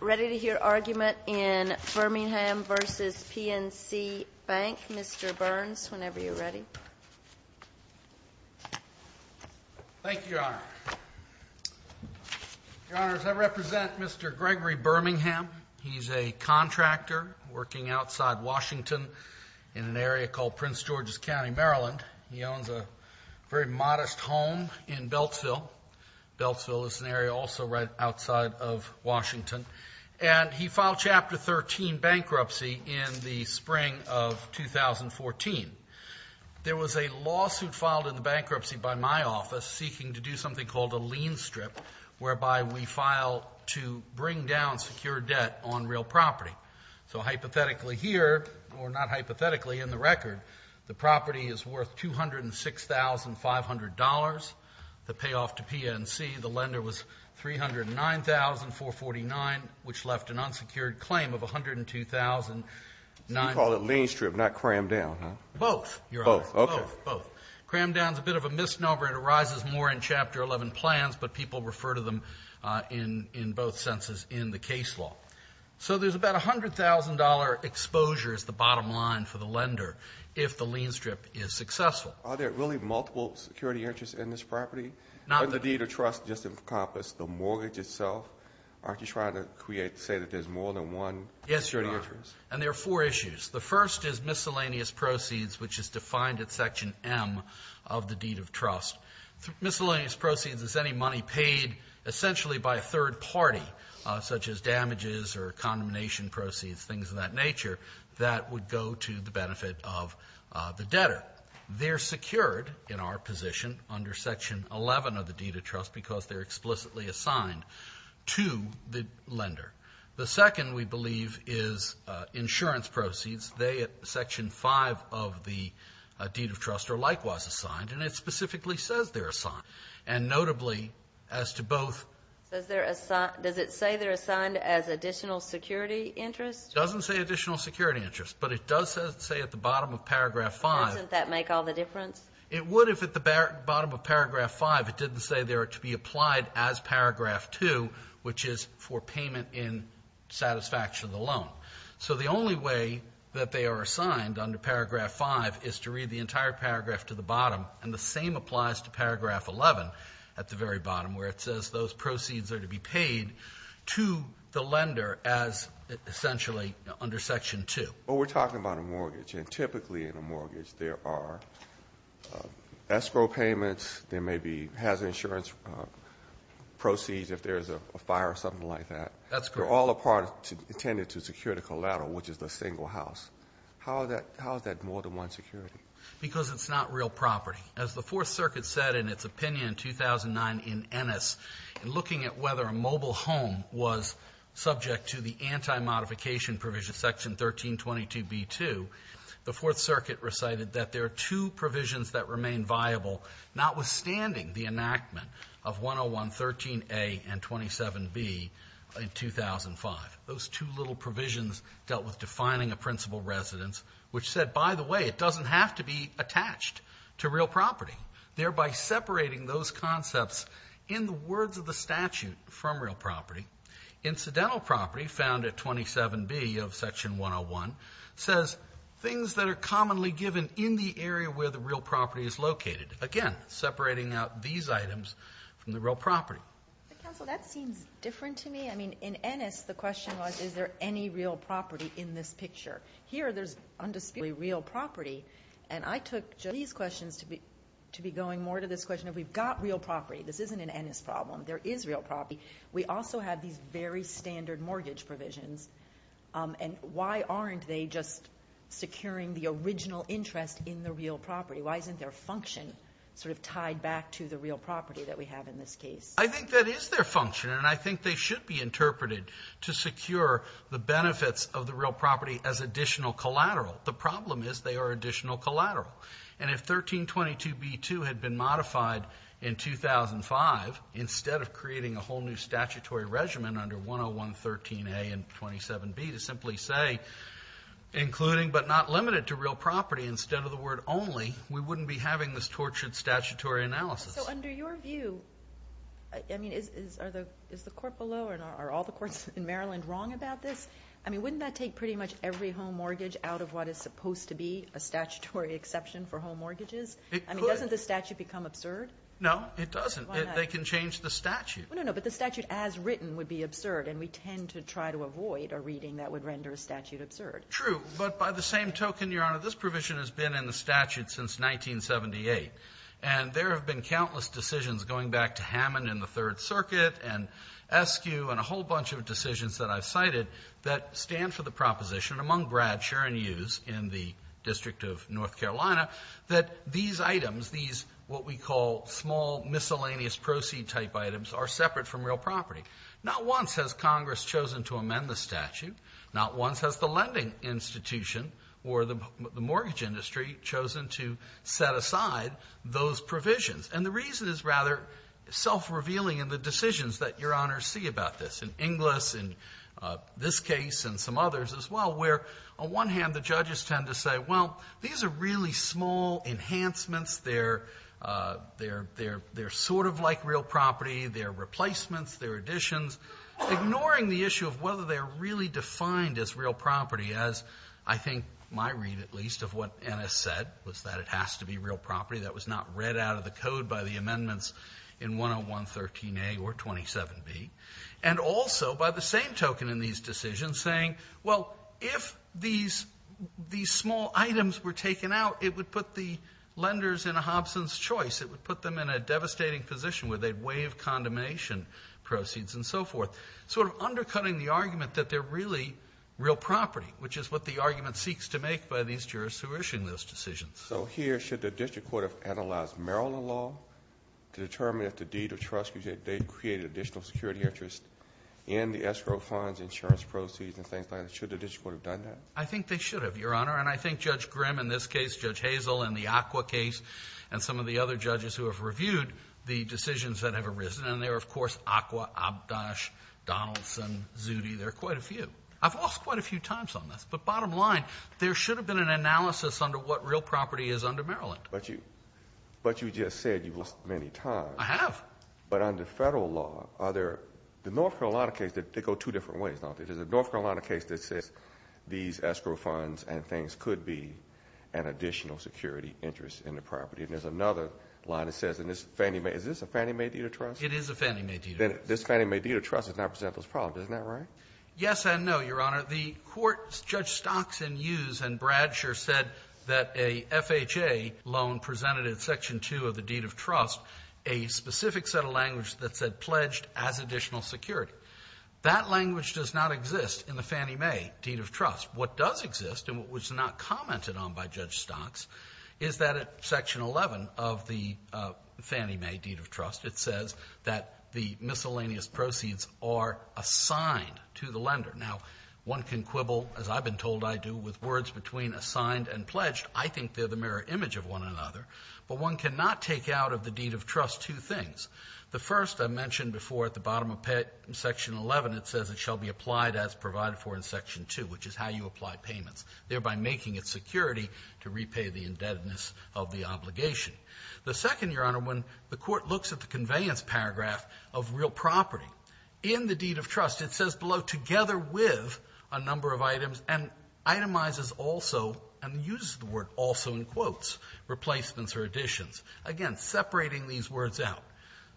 Ready to hear argument in Birmingham v. PNC Bank. Mr. Burns, whenever you're ready. Thank you, Your Honor. Your Honors, I represent Mr. Gregory Birmingham. He's a contractor working outside Washington in an area called Prince George's County, Maryland. He owns a very modest home in Beltsville. Beltsville is an area also right outside of Washington. And he filed Chapter 13 bankruptcy in the spring of 2014. There was a lawsuit filed in the bankruptcy by my office seeking to do something called a lien strip, whereby we file to bring down secure debt on real property. So hypothetically here, or not hypothetically in the record, the property is worth $206,500. The payoff to PNC, the lender was $309,449, which left an unsecured claim of $102,900. So you call it lien strip, not cram down, huh? Both, Your Honor. Both, okay. Both. Cram down is a bit of a misnomer. It arises more in Chapter 11 plans, but people refer to them in both senses in the case law. So there's about $100,000 exposure is the bottom line for the lender if the lien strip is successful. Are there really multiple security interests in this property? Not that the deed of trust just encompassed the mortgage itself. Aren't you trying to create, say that there's more than one security interest? Yes, Your Honor. And there are four issues. The first is miscellaneous proceeds, which is defined at Section M of the deed of trust. Miscellaneous proceeds is any money paid essentially by a third party, such as damages or condemnation proceeds, things of that nature, that would go to the benefit of the debtor. But they're secured in our position under Section 11 of the deed of trust because they're explicitly assigned to the lender. The second, we believe, is insurance proceeds. They at Section 5 of the deed of trust are likewise assigned, and it specifically says they're assigned. And notably, as to both. Does it say they're assigned as additional security interest? It doesn't say additional security interest, but it does say at the bottom of Paragraph 5. Doesn't that make all the difference? It would if at the bottom of Paragraph 5 it didn't say they're to be applied as Paragraph 2, which is for payment in satisfaction of the loan. So the only way that they are assigned under Paragraph 5 is to read the entire paragraph to the bottom, and the same applies to Paragraph 11 at the very bottom where it says those proceeds are to be paid to the lender as essentially under Section 2. But we're talking about a mortgage, and typically in a mortgage there are escrow payments. There may be hazard insurance proceeds if there's a fire or something like that. That's correct. They're all intended to secure the collateral, which is the single house. How is that more than one security? Because it's not real property. As the Fourth Circuit said in its opinion in 2009 in Ennis, in looking at whether a mobile home was subject to the anti-modification provision, Section 1322B-2, the Fourth Circuit recited that there are two provisions that remain viable, notwithstanding the enactment of 10113A and 27B in 2005. Those two little provisions dealt with defining a principal residence, which said, by the way, it doesn't have to be attached to real property, thereby separating those concepts in the words of the statute from real property. Incidental property found at 27B of Section 101 says things that are commonly given in the area where the real property is located, again, separating out these items from the real property. Counsel, that seems different to me. I mean, in Ennis, the question was is there any real property in this picture? Here there's undisputably real property, and I took Julie's questions to be going more to this question of we've got real property. This isn't an Ennis problem. There is real property. We also have these very standard mortgage provisions, and why aren't they just securing the original interest in the real property? Why isn't their function sort of tied back to the real property that we have in this case? I think that is their function, and I think they should be interpreted to secure the benefits of the real property as additional collateral. The problem is they are additional collateral. And if 1322B2 had been modified in 2005 instead of creating a whole new statutory regimen under 10113A and 27B to simply say including but not limited to real property instead of the word only, we wouldn't be having this tortured statutory analysis. So under your view, I mean, is the court below or are all the courts in Maryland wrong about this? I mean, wouldn't that take pretty much every home mortgage out of what is supposed to be a statutory exception for home mortgages? It could. I mean, doesn't the statute become absurd? No, it doesn't. Why not? They can change the statute. No, no, no, but the statute as written would be absurd, and we tend to try to avoid a reading that would render a statute absurd. True, but by the same token, Your Honor, this provision has been in the statute since 1978, and there have been countless decisions going back to Hammond in the Third Circuit and Eskew and a whole bunch of decisions that I've cited that stand for the proposition among Brad, Sher, and Hughes in the District of North Carolina that these items, these what we call small miscellaneous proceed type items are separate from real property. Not once has the lending institution or the mortgage industry chosen to set aside those provisions. And the reason is rather self-revealing in the decisions that Your Honor see about this, in Inglis, in this case, and some others as well, where on one hand the judges tend to say, well, these are really small enhancements. They're sort of like real property. They're replacements. They're additions. Ignoring the issue of whether they're really defined as real property, as I think my read at least of what Ennis said was that it has to be real property. That was not read out of the code by the amendments in 10113A or 27B. And also by the same token in these decisions saying, well, if these small items were taken out, it would put the lenders in a Hobson's choice. It would put them in a devastating position where they'd waive condemnation proceeds and so forth. Sort of undercutting the argument that they're really real property, which is what the argument seeks to make by these jurists who are issuing those decisions. So here, should the district court have analyzed Maryland law to determine if the deed of trust, they created additional security interest in the escrow funds, insurance proceeds, and things like that? Should the district court have done that? I think they should have, Your Honor. And I think Judge Grimm in this case, Judge Hazel in the ACWA case, and some of the other judges who have reviewed the decisions that have arisen, and there are, of course, ACWA, Abdosh, Donaldson, Zutti. There are quite a few. I've lost quite a few times on this, but bottom line, there should have been an analysis under what real property is under Maryland. But you just said you've lost many times. I have. But under federal law, the North Carolina case, they go two different ways, don't they? There's a North Carolina case that says these escrow funds and things could be an additional security interest in the property. And there's another line that says, is this a Fannie Mae deed of trust? It is a Fannie Mae deed of trust. Then this Fannie Mae deed of trust does not present those problems. Isn't that right? Yes and no, Your Honor. The court, Judge Stockson used and Bradsher said that a FHA loan presented in Section 2 of the deed of trust a specific set of language that said pledged as additional security. That language does not exist in the Fannie Mae deed of trust. What does exist and what was not commented on by Judge Stocks is that at Section 11 of the Fannie Mae deed of trust, it says that the miscellaneous proceeds are assigned to the lender. Now, one can quibble, as I've been told I do, with words between assigned and pledged. I think they're the mirror image of one another. But one cannot take out of the deed of trust two things. The first I mentioned before at the bottom of Section 11, it says it shall be applied as provided for in Section 2, which is how you apply payments, thereby making it security to repay the indebtedness of the obligation. The second, Your Honor, when the court looks at the conveyance paragraph of real property, in the deed of trust it says below, together with a number of items and itemizes also and uses the word also in quotes, replacements or additions. Again, separating these words out.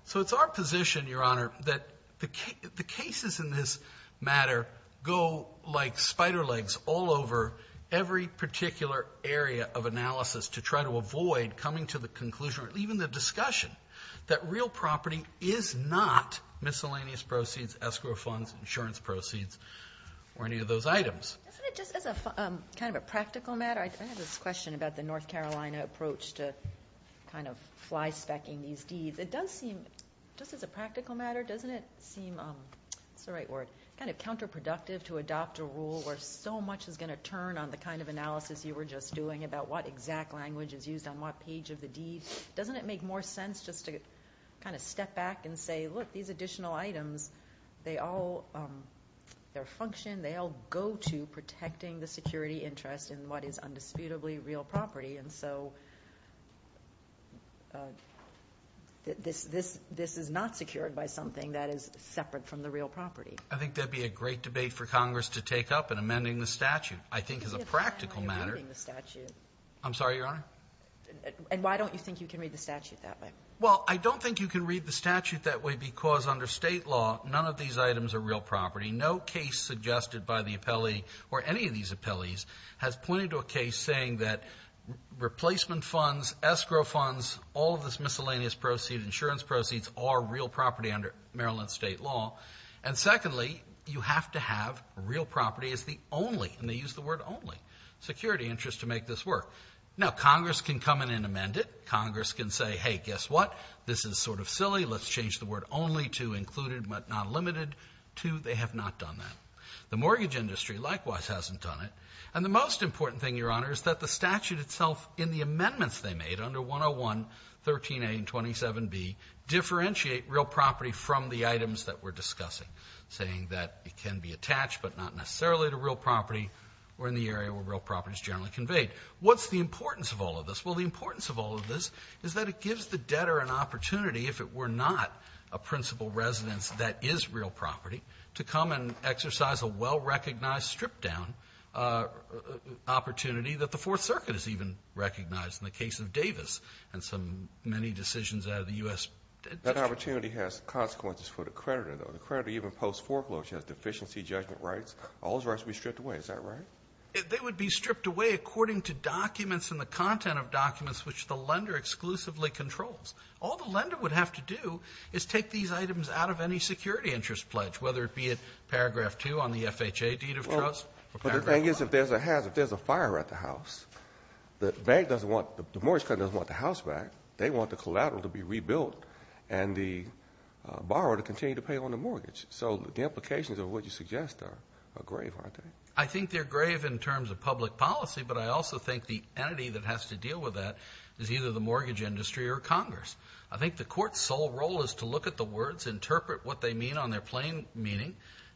So it's our position, Your Honor, that the cases in this matter go like spider legs all over every particular area of analysis to try to avoid coming to the conclusion or even the discussion that real property is not miscellaneous proceeds, escrow funds, insurance proceeds, or any of those items. Isn't it just as kind of a practical matter, I have this question about the North Carolina approach to kind of fly specking these deeds. It does seem, just as a practical matter, doesn't it seem, what's the right word, kind of counterproductive to adopt a rule where so much is going to turn on the kind of analysis you were just doing about what exact language is used on what page of the deed? Doesn't it make more sense just to kind of step back and say, look, these additional items, they all, their function, they all go to protecting the security interest in what is undisputably real property. And so this is not secured by something that is separate from the real property. I think that would be a great debate for Congress to take up in amending the statute. I think as a practical matter. I'm sorry, Your Honor? And why don't you think you can read the statute that way? Well, I don't think you can read the statute that way because under state law, none of these items are real property. No case suggested by the appellee or any of these appellees has pointed to a case saying that replacement funds, escrow funds, all of this miscellaneous proceeds, insurance proceeds, are real property under Maryland state law. And secondly, you have to have real property as the only, and they use the word only, security interest to make this work. Now, Congress can come in and amend it. Congress can say, hey, guess what? This is sort of silly. Let's change the word only to included but not limited to they have not done that. The mortgage industry likewise hasn't done it. And the most important thing, Your Honor, is that the statute itself in the amendments they made under 101, 13A and 27B differentiate real property from the items that we're discussing, saying that it can be attached but not necessarily to real property or in the area where real property is generally conveyed. What's the importance of all of this? Well, the importance of all of this is that it gives the debtor an opportunity, if it were not a principal residence that is real property, to come and exercise a well-recognized stripped-down opportunity that the Fourth Circuit has even recognized in the case of Davis and some many decisions out of the U.S. That opportunity has consequences for the creditor, though. The creditor even posts foreclosures, deficiency judgment rights. All those rights would be stripped away. Is that right? They would be stripped away according to documents and the content of documents which the lender exclusively controls. All the lender would have to do is take these items out of any security interest pledge, whether it be at paragraph 2 on the FHA deed of trust or paragraph 5. But the thing is, if there's a hazard, if there's a fire at the house, the mortgage company doesn't want the house back. They want the collateral to be rebuilt and the borrower to continue to pay on the mortgage. So the implications of what you suggest are grave, aren't they? I think they're grave in terms of public policy, but I also think the entity that has to deal with that is either the mortgage industry or Congress. I think the court's sole role is to look at the words, interpret what they mean on their plain meaning,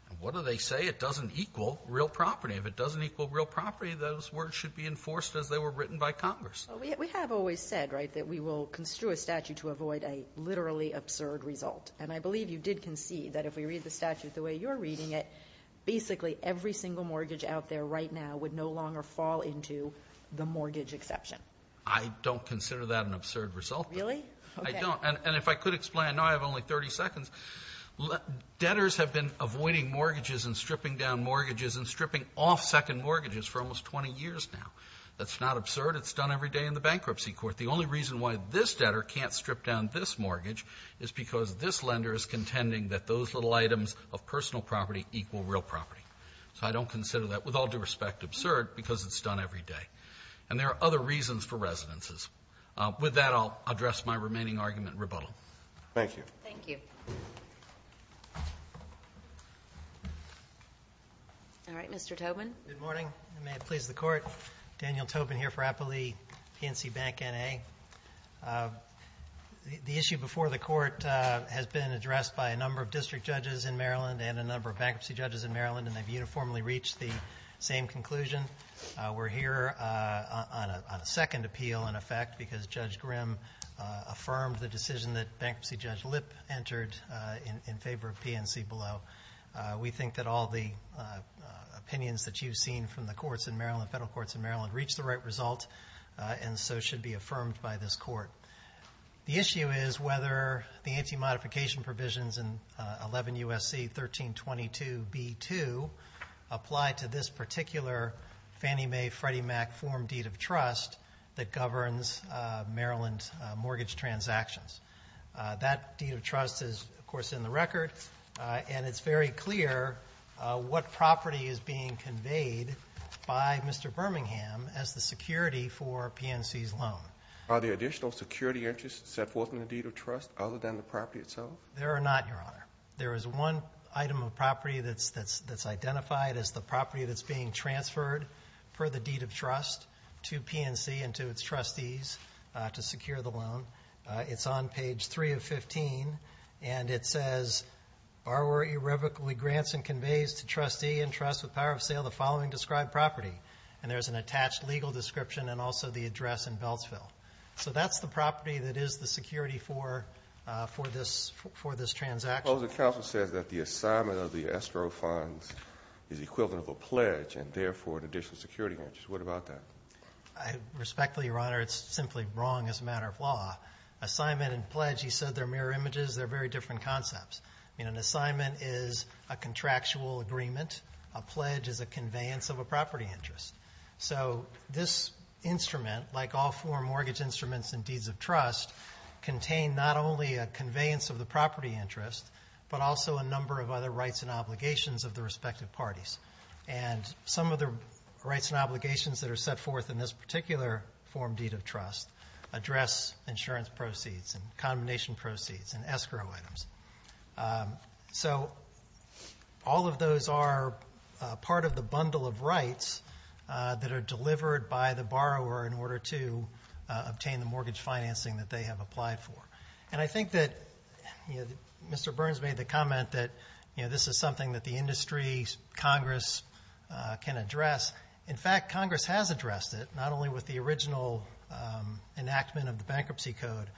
and what do they say? It doesn't equal real property. If it doesn't equal real property, those words should be enforced as they were written by Congress. We have always said, right, that we will construe a statute to avoid a literally absurd result. And I believe you did concede that if we read the statute the way you're reading it, basically every single mortgage out there right now would no longer fall into the mortgage exception. I don't consider that an absurd result. Really? I don't. And if I could explain, I know I have only 30 seconds. Debtors have been avoiding mortgages and stripping down mortgages and stripping off second mortgages for almost 20 years now. That's not absurd. It's done every day in the bankruptcy court. The only reason why this debtor can't strip down this mortgage is because this lender is contending that those little items of personal property equal real property. So I don't consider that, with all due respect, absurd because it's done every day. And there are other reasons for residences. With that, I'll address my remaining argument in rebuttal. Thank you. Thank you. All right. Mr. Tobin. Good morning. May it please the Court. Daniel Tobin here for Appleby PNC Bank, N.A. The issue before the Court has been addressed by a number of district judges in Maryland and a number of bankruptcy judges in Maryland, and they've uniformly reached the same conclusion. We're here on a second appeal, in effect, because Judge Grimm affirmed the decision that bankruptcy judge Lipp entered in favor of PNC Below. We think that all the opinions that you've seen from the courts in Maryland, federal courts in Maryland, reach the right result and so should be affirmed by this Court. The issue is whether the anti-modification provisions in 11 U.S.C. 1322 B.2 apply to this particular Fannie Mae Freddie Mac form deed of trust that governs Maryland mortgage transactions. That deed of trust is, of course, in the record, and it's very clear what property is being conveyed by Mr. Birmingham as the security for PNC's loan. Are there additional security interests set forth in the deed of trust other than the property itself? There are not, Your Honor. There is one item of property that's identified as the property that's being transferred per the deed of trust to PNC and to its trustees to secure the loan. It's on page 3 of 15, and it says, Borrower irrevocably grants and conveys to trustee in trust with power of sale the following described property. And there's an attached legal description and also the address in Beltsville. So that's the property that is the security for this transaction. Well, the counsel says that the assignment of the estro funds is equivalent of a pledge and therefore an additional security interest. What about that? I respectfully, Your Honor, it's simply wrong as a matter of law. Assignment and pledge, you said they're mirror images. They're very different concepts. An assignment is a contractual agreement. A pledge is a conveyance of a property interest. So this instrument, like all form mortgage instruments and deeds of trust, contain not only a conveyance of the property interest but also a number of other rights and obligations of the respective parties. And some of the rights and obligations that are set forth in this particular form deed of trust address insurance proceeds and combination proceeds and escrow items. So all of those are part of the bundle of rights that are delivered by the borrower in order to obtain the mortgage financing that they have applied for. And I think that Mr. Burns made the comment that this is something that the industry, Congress, can address. In fact, Congress has addressed it, not only with the original enactment of the Bankruptcy Code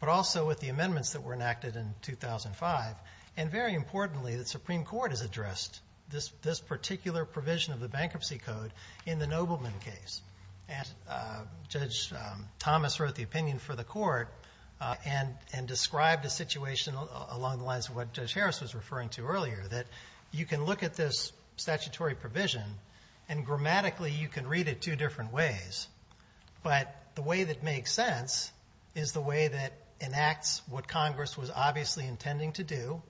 but also with the amendments that were enacted in 2005. And very importantly, the Supreme Court has addressed this particular provision of the Bankruptcy Code in the Nobleman case. Judge Thomas wrote the opinion for the court and described a situation along the lines of what Judge Harris was referring to earlier, that you can look at this statutory provision and grammatically you can read it two different ways. But the way that makes sense is the way that enacts what Congress was obviously intending to do,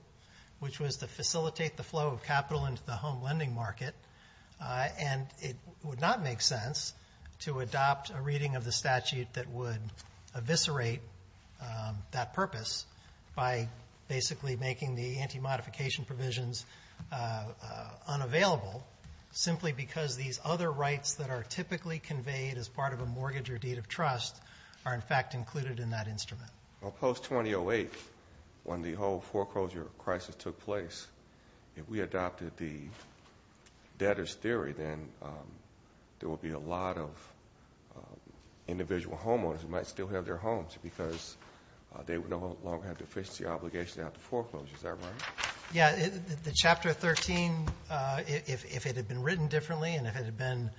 which was to facilitate the flow of capital into the home lending market. And it would not make sense to adopt a reading of the statute that would eviscerate that purpose by basically making the anti-modification provisions unavailable simply because these other rights that are typically conveyed as part of a mortgage or deed of trust are, in fact, included in that instrument. Well, post-2008, when the whole foreclosure crisis took place, if we adopted the debtors' theory, then there would be a lot of individual homeowners who might still have their homes because they would no longer have deficiency obligations after foreclosure. Is that right? Yeah. The Chapter 13, if it had been written differently and if it had been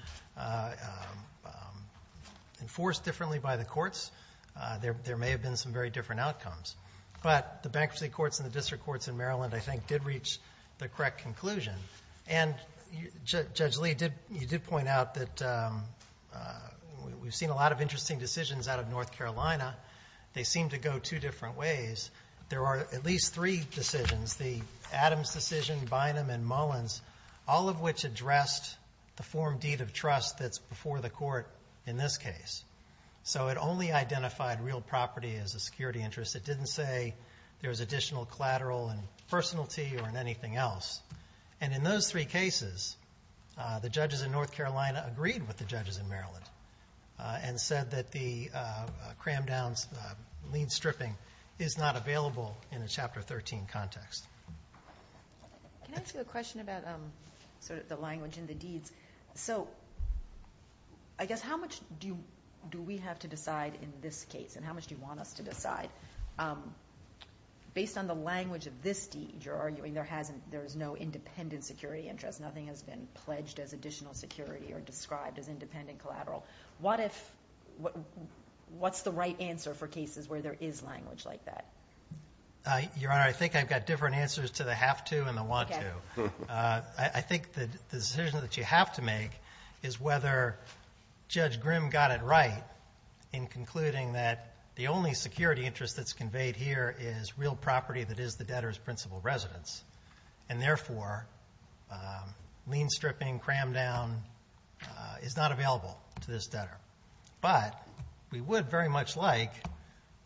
enforced differently by the courts, there may have been some very different outcomes. But the bankruptcy courts and the district courts in Maryland, I think, did reach the correct conclusion. And, Judge Lee, you did point out that we've seen a lot of interesting decisions out of North Carolina. They seem to go two different ways. There are at least three decisions, the Adams decision, Bynum, and Mullins, all of which addressed the form deed of trust that's before the court in this case. So it only identified real property as a security interest. It didn't say there was additional collateral and personality or anything else. And in those three cases, the judges in North Carolina agreed with the judges in Maryland and said that the cram-downs, the lien stripping, is not available in a Chapter 13 context. Can I ask you a question about sort of the language in the deeds? So I guess how much do we have to decide in this case and how much do you want us to decide? Based on the language of this deed, you're arguing there is no independent security interest, nothing has been pledged as additional security or described as independent collateral. What's the right answer for cases where there is language like that? Your Honor, I think I've got different answers to the have to and the want to. I think the decision that you have to make is whether Judge Grimm got it right in concluding that the only security interest that's conveyed here is real property that is the debtor's principal residence, and therefore lien stripping, cram-down, is not available to this debtor. But we would very much like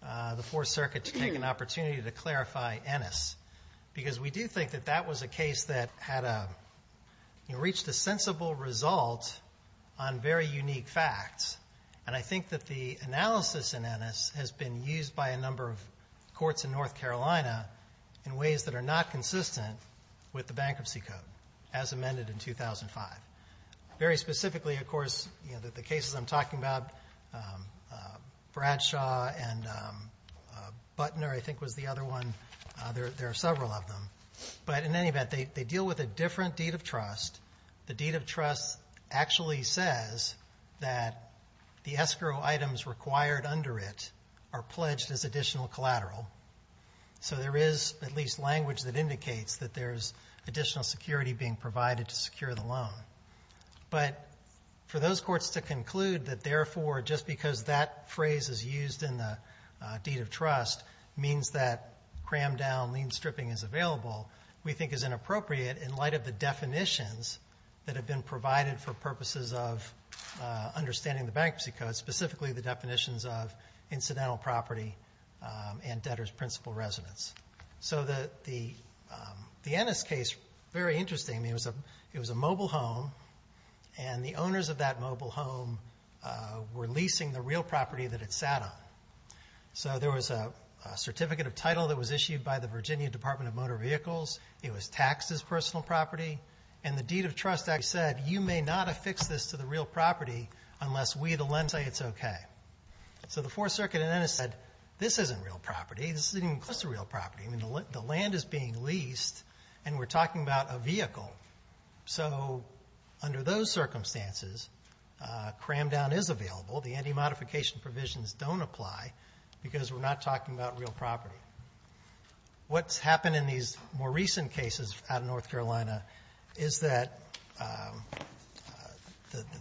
the Fourth Circuit to take an opportunity to clarify Ennis because we do think that that was a case that reached a sensible result on very unique facts. And I think that the analysis in Ennis has been used by a number of courts in North Carolina in ways that are not consistent with the Bankruptcy Code, as amended in 2005. Very specifically, of course, the cases I'm talking about, Bradshaw and Butner, I think, was the other one. There are several of them. But in any event, they deal with a different deed of trust. The deed of trust actually says that the escrow items required under it are pledged as additional collateral. So there is at least language that indicates that there's additional security being provided to secure the loan. But for those courts to conclude that, therefore, just because that phrase is used in the deed of trust means that cram-down, lien stripping is available, we think is inappropriate in light of the definitions that have been provided for purposes of understanding the Bankruptcy Code, but specifically the definitions of incidental property and debtor's principal residence. So the Ennis case, very interesting. It was a mobile home, and the owners of that mobile home were leasing the real property that it sat on. So there was a certificate of title that was issued by the Virginia Department of Motor Vehicles. It was taxed as personal property. And the deed of trust actually said, you may not affix this to the real property unless we, the lends, say it's okay. So the Fourth Circuit in Ennis said, this isn't real property. This isn't even close to real property. The land is being leased, and we're talking about a vehicle. So under those circumstances, cram-down is available. The anti-modification provisions don't apply because we're not talking about real property. What's happened in these more recent cases out of North Carolina is that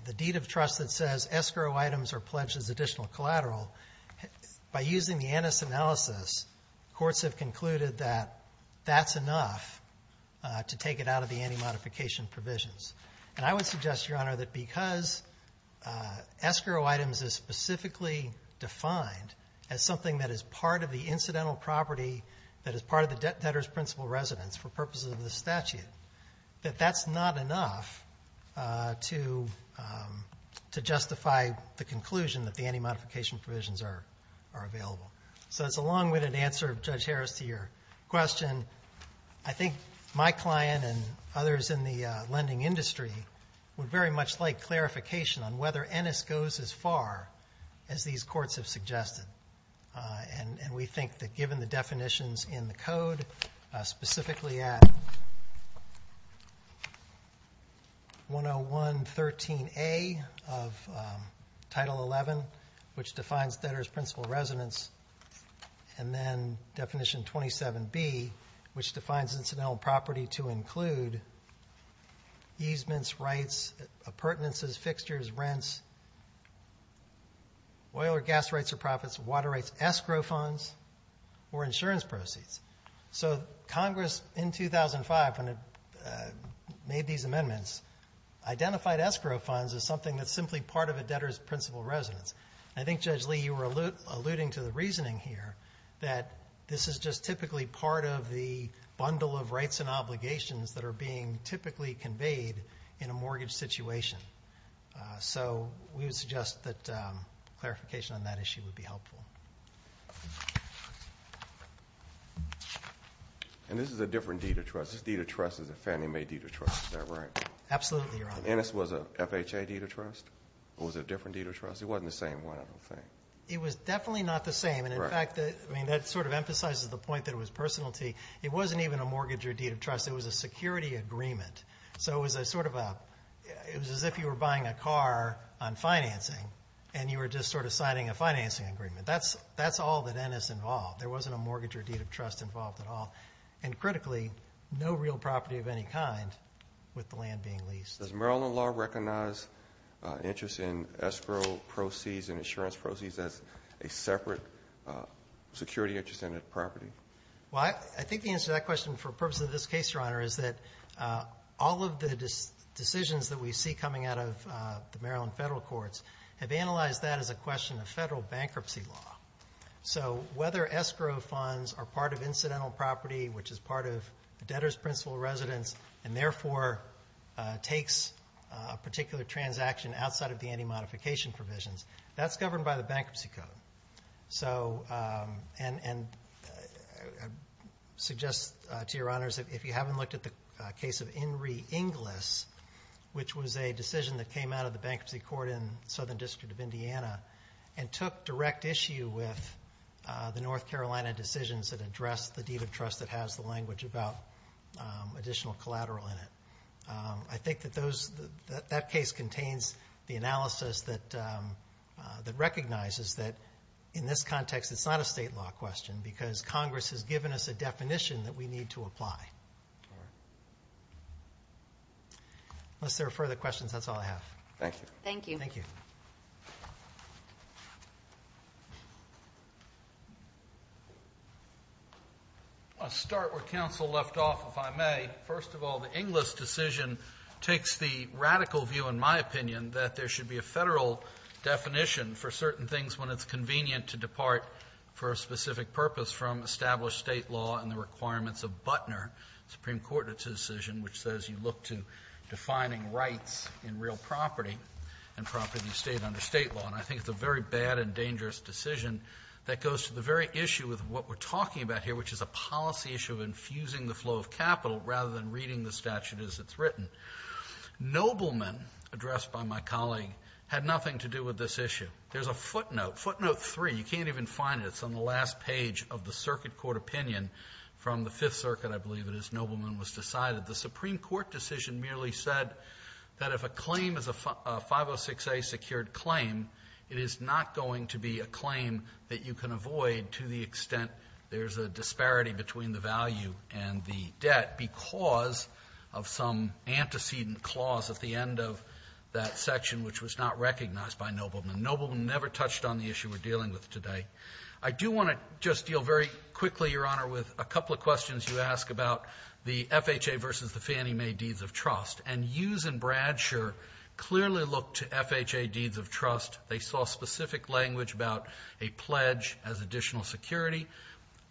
the deed of trust that says escrow items are pledged as additional collateral, by using the Ennis analysis, courts have concluded that that's enough to take it out of the anti-modification provisions. And I would suggest, Your Honor, that because escrow items is specifically defined as something that is part of the incidental property that is part of the debtor's principal residence for purposes of the statute, that that's not enough to justify the conclusion that the anti-modification provisions are available. So it's a long-winded answer, Judge Harris, to your question. I think my client and others in the lending industry would very much like clarification on whether Ennis goes as far as these courts have suggested. And we think that given the definitions in the code, specifically at 101.13a of Title XI, which defines debtor's principal residence, and then definition 27b, which defines incidental property to include easements, rights, appurtenances, fixtures, rents, oil or gas rights or profits, water rights, escrow funds, or insurance proceeds. So Congress, in 2005, when it made these amendments, identified escrow funds as something that's simply part of a debtor's principal residence. I think, Judge Lee, you were alluding to the reasoning here that this is just typically part of the bundle of rights and obligations that are being typically conveyed in a mortgage situation. So we would suggest that clarification on that issue would be helpful. And this is a different deed of trust. This deed of trust is a family-made deed of trust. Is that right? Absolutely, Your Honor. Ennis was a FHA deed of trust? Or was it a different deed of trust? It wasn't the same one, I don't think. It was definitely not the same. And in fact, that sort of emphasizes the point that it was personality. It wasn't even a mortgage or deed of trust. It was a security agreement. So it was a sort of a... It was as if you were buying a car on financing and you were just sort of signing a financing agreement. That's all that Ennis involved. There wasn't a mortgage or deed of trust involved at all. And critically, no real property of any kind with the land being leased. Does Maryland law recognize interest in escrow proceeds and insurance proceeds as a separate security interest in a property? Well, I think the answer to that question for the purpose of this case, Your Honor, is that all of the decisions that we see coming out of the Maryland federal courts have analyzed that as a question of federal bankruptcy law. So whether escrow funds are part of incidental property, which is part of the debtor's principal residence, and therefore takes a particular transaction outside of the anti-modification provisions, that's governed by the Bankruptcy Code. So...and I suggest to Your Honors, if you haven't looked at the case of Enri Inglis, which was a decision that came out of the Bankruptcy Court in the Southern District of Indiana and took direct issue with the North Carolina decisions that address the deed of trust that has the language about additional collateral in it, I think that that case contains the analysis that recognizes that, in this context, it's not a state law question because Congress has given us a definition that we need to apply. Unless there are further questions, that's all I have. Thank you. Thank you. Thank you. I'll start where counsel left off, if I may. First of all, the Inglis decision takes the radical view, in my opinion, that there should be a federal definition for certain things when it's convenient to depart for a specific purpose from established state law and the requirements of Butner, the Supreme Court decision, which says you look to defining rights in real property and property of the state under state law. And I think it's a very bad and dangerous decision that goes to the very issue with what we're talking about here, which is a policy issue of infusing the flow of capital rather than reading the statute as it's written. Nobleman, addressed by my colleague, had nothing to do with this issue. There's a footnote, footnote 3. You can't even find it. It's on the last page of the circuit court opinion from the Fifth Circuit, I believe it is. Nobleman was decided. The Supreme Court decision merely said that if a claim is a 506A secured claim, it is not going to be a claim that you can avoid to the extent there's a disparity between the value and the debt because of some antecedent clause at the end of that section which was not recognized by Nobleman. Nobleman never touched on the issue we're dealing with today. I do want to just deal very quickly, Your Honor, with a couple of questions you asked about the FHA versus the Fannie Mae Deeds of Trust. And Hughes and Bradshaw clearly looked to FHA Deeds of Trust. They saw specific language about a pledge as additional security.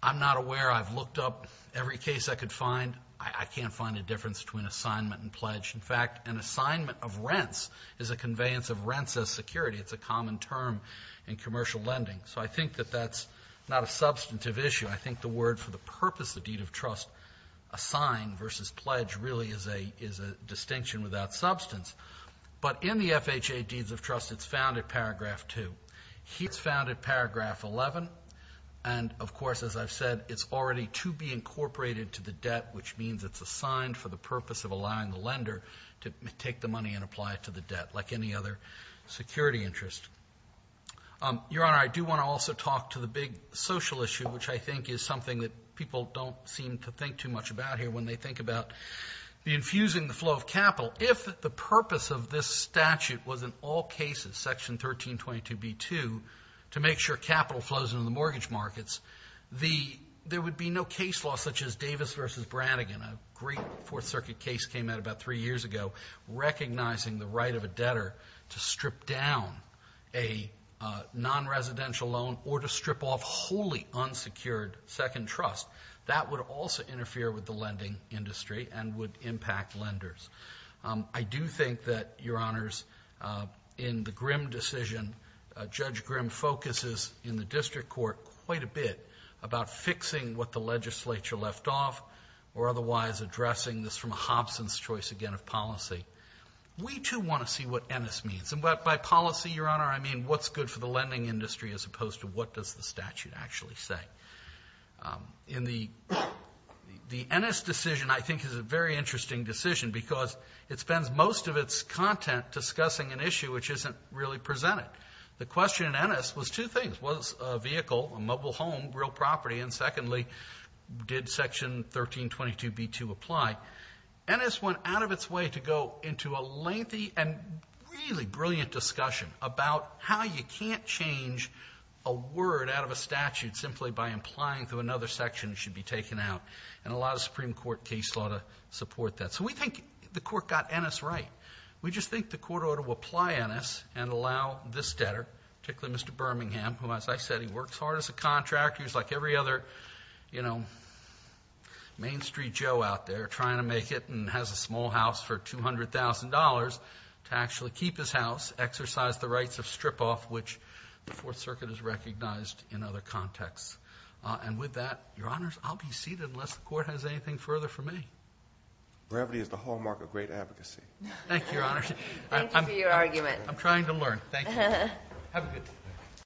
I'm not aware. I've looked up every case I could find. I can't find a difference between assignment and pledge. In fact, an assignment of rents is a conveyance of rents as security. It's a common term in commercial lending. So I think that that's not a substantive issue. I think the word for the purpose of Deed of Trust, assign versus pledge, really is a distinction without substance. But in the FHA Deeds of Trust, it's found at paragraph 2. It's found at paragraph 11. And, of course, as I've said, it's already to be incorporated to the debt, which means it's assigned for the purpose of allowing the lender to take the money and apply it to the debt, like any other security interest. Your Honor, I do want to also talk to the big social issue, which I think is something that people don't seem to think too much about here when they think about the infusing the flow of capital. If the purpose of this statute was in all cases, section 1322b-2, to make sure capital flows into the mortgage markets, there would be no case law such as Davis v. Brannigan, a great Fourth Circuit case came out about three years ago, recognizing the right of a debtor to strip down a non-residential loan or to strip off wholly unsecured second trust. That would also interfere with the lending industry and would impact lenders. I do think that, Your Honors, in the Grimm decision, Judge Grimm focuses in the district court quite a bit about fixing what the legislature left off or otherwise addressing this from a Hobson's choice again of policy. We, too, want to see what Ennis means. And by policy, Your Honor, I mean what's good for the lending industry as opposed to what does the statute actually say. The Ennis decision, I think, is a very interesting decision because it spends most of its content discussing an issue which isn't really presented. The question in Ennis was two things. Was it a vehicle, a mobile home, real property? And secondly, did section 1322b-2 apply? Ennis went out of its way to go into a lengthy and really brilliant discussion about how you can't change a word out of a statute simply by implying through another section it should be taken out. And a lot of Supreme Court case law support that. So we think the court got Ennis right. We just think the court ought to apply Ennis and allow this debtor, particularly Mr. Birmingham, who, as I said, he works hard as a contractor. He's like every other, you know, Main Street Joe out there trying to make it and has a small house for $200,000 to actually keep his house, exercise the rights of strip-off, which the Fourth Circuit has recognized in other contexts. And with that, Your Honors, I'll be seated unless the court has anything further for me. Gravity is the hallmark of great advocacy. Thank you, Your Honor. Thank you for your argument. I'm trying to learn. Thank you. Have a good day.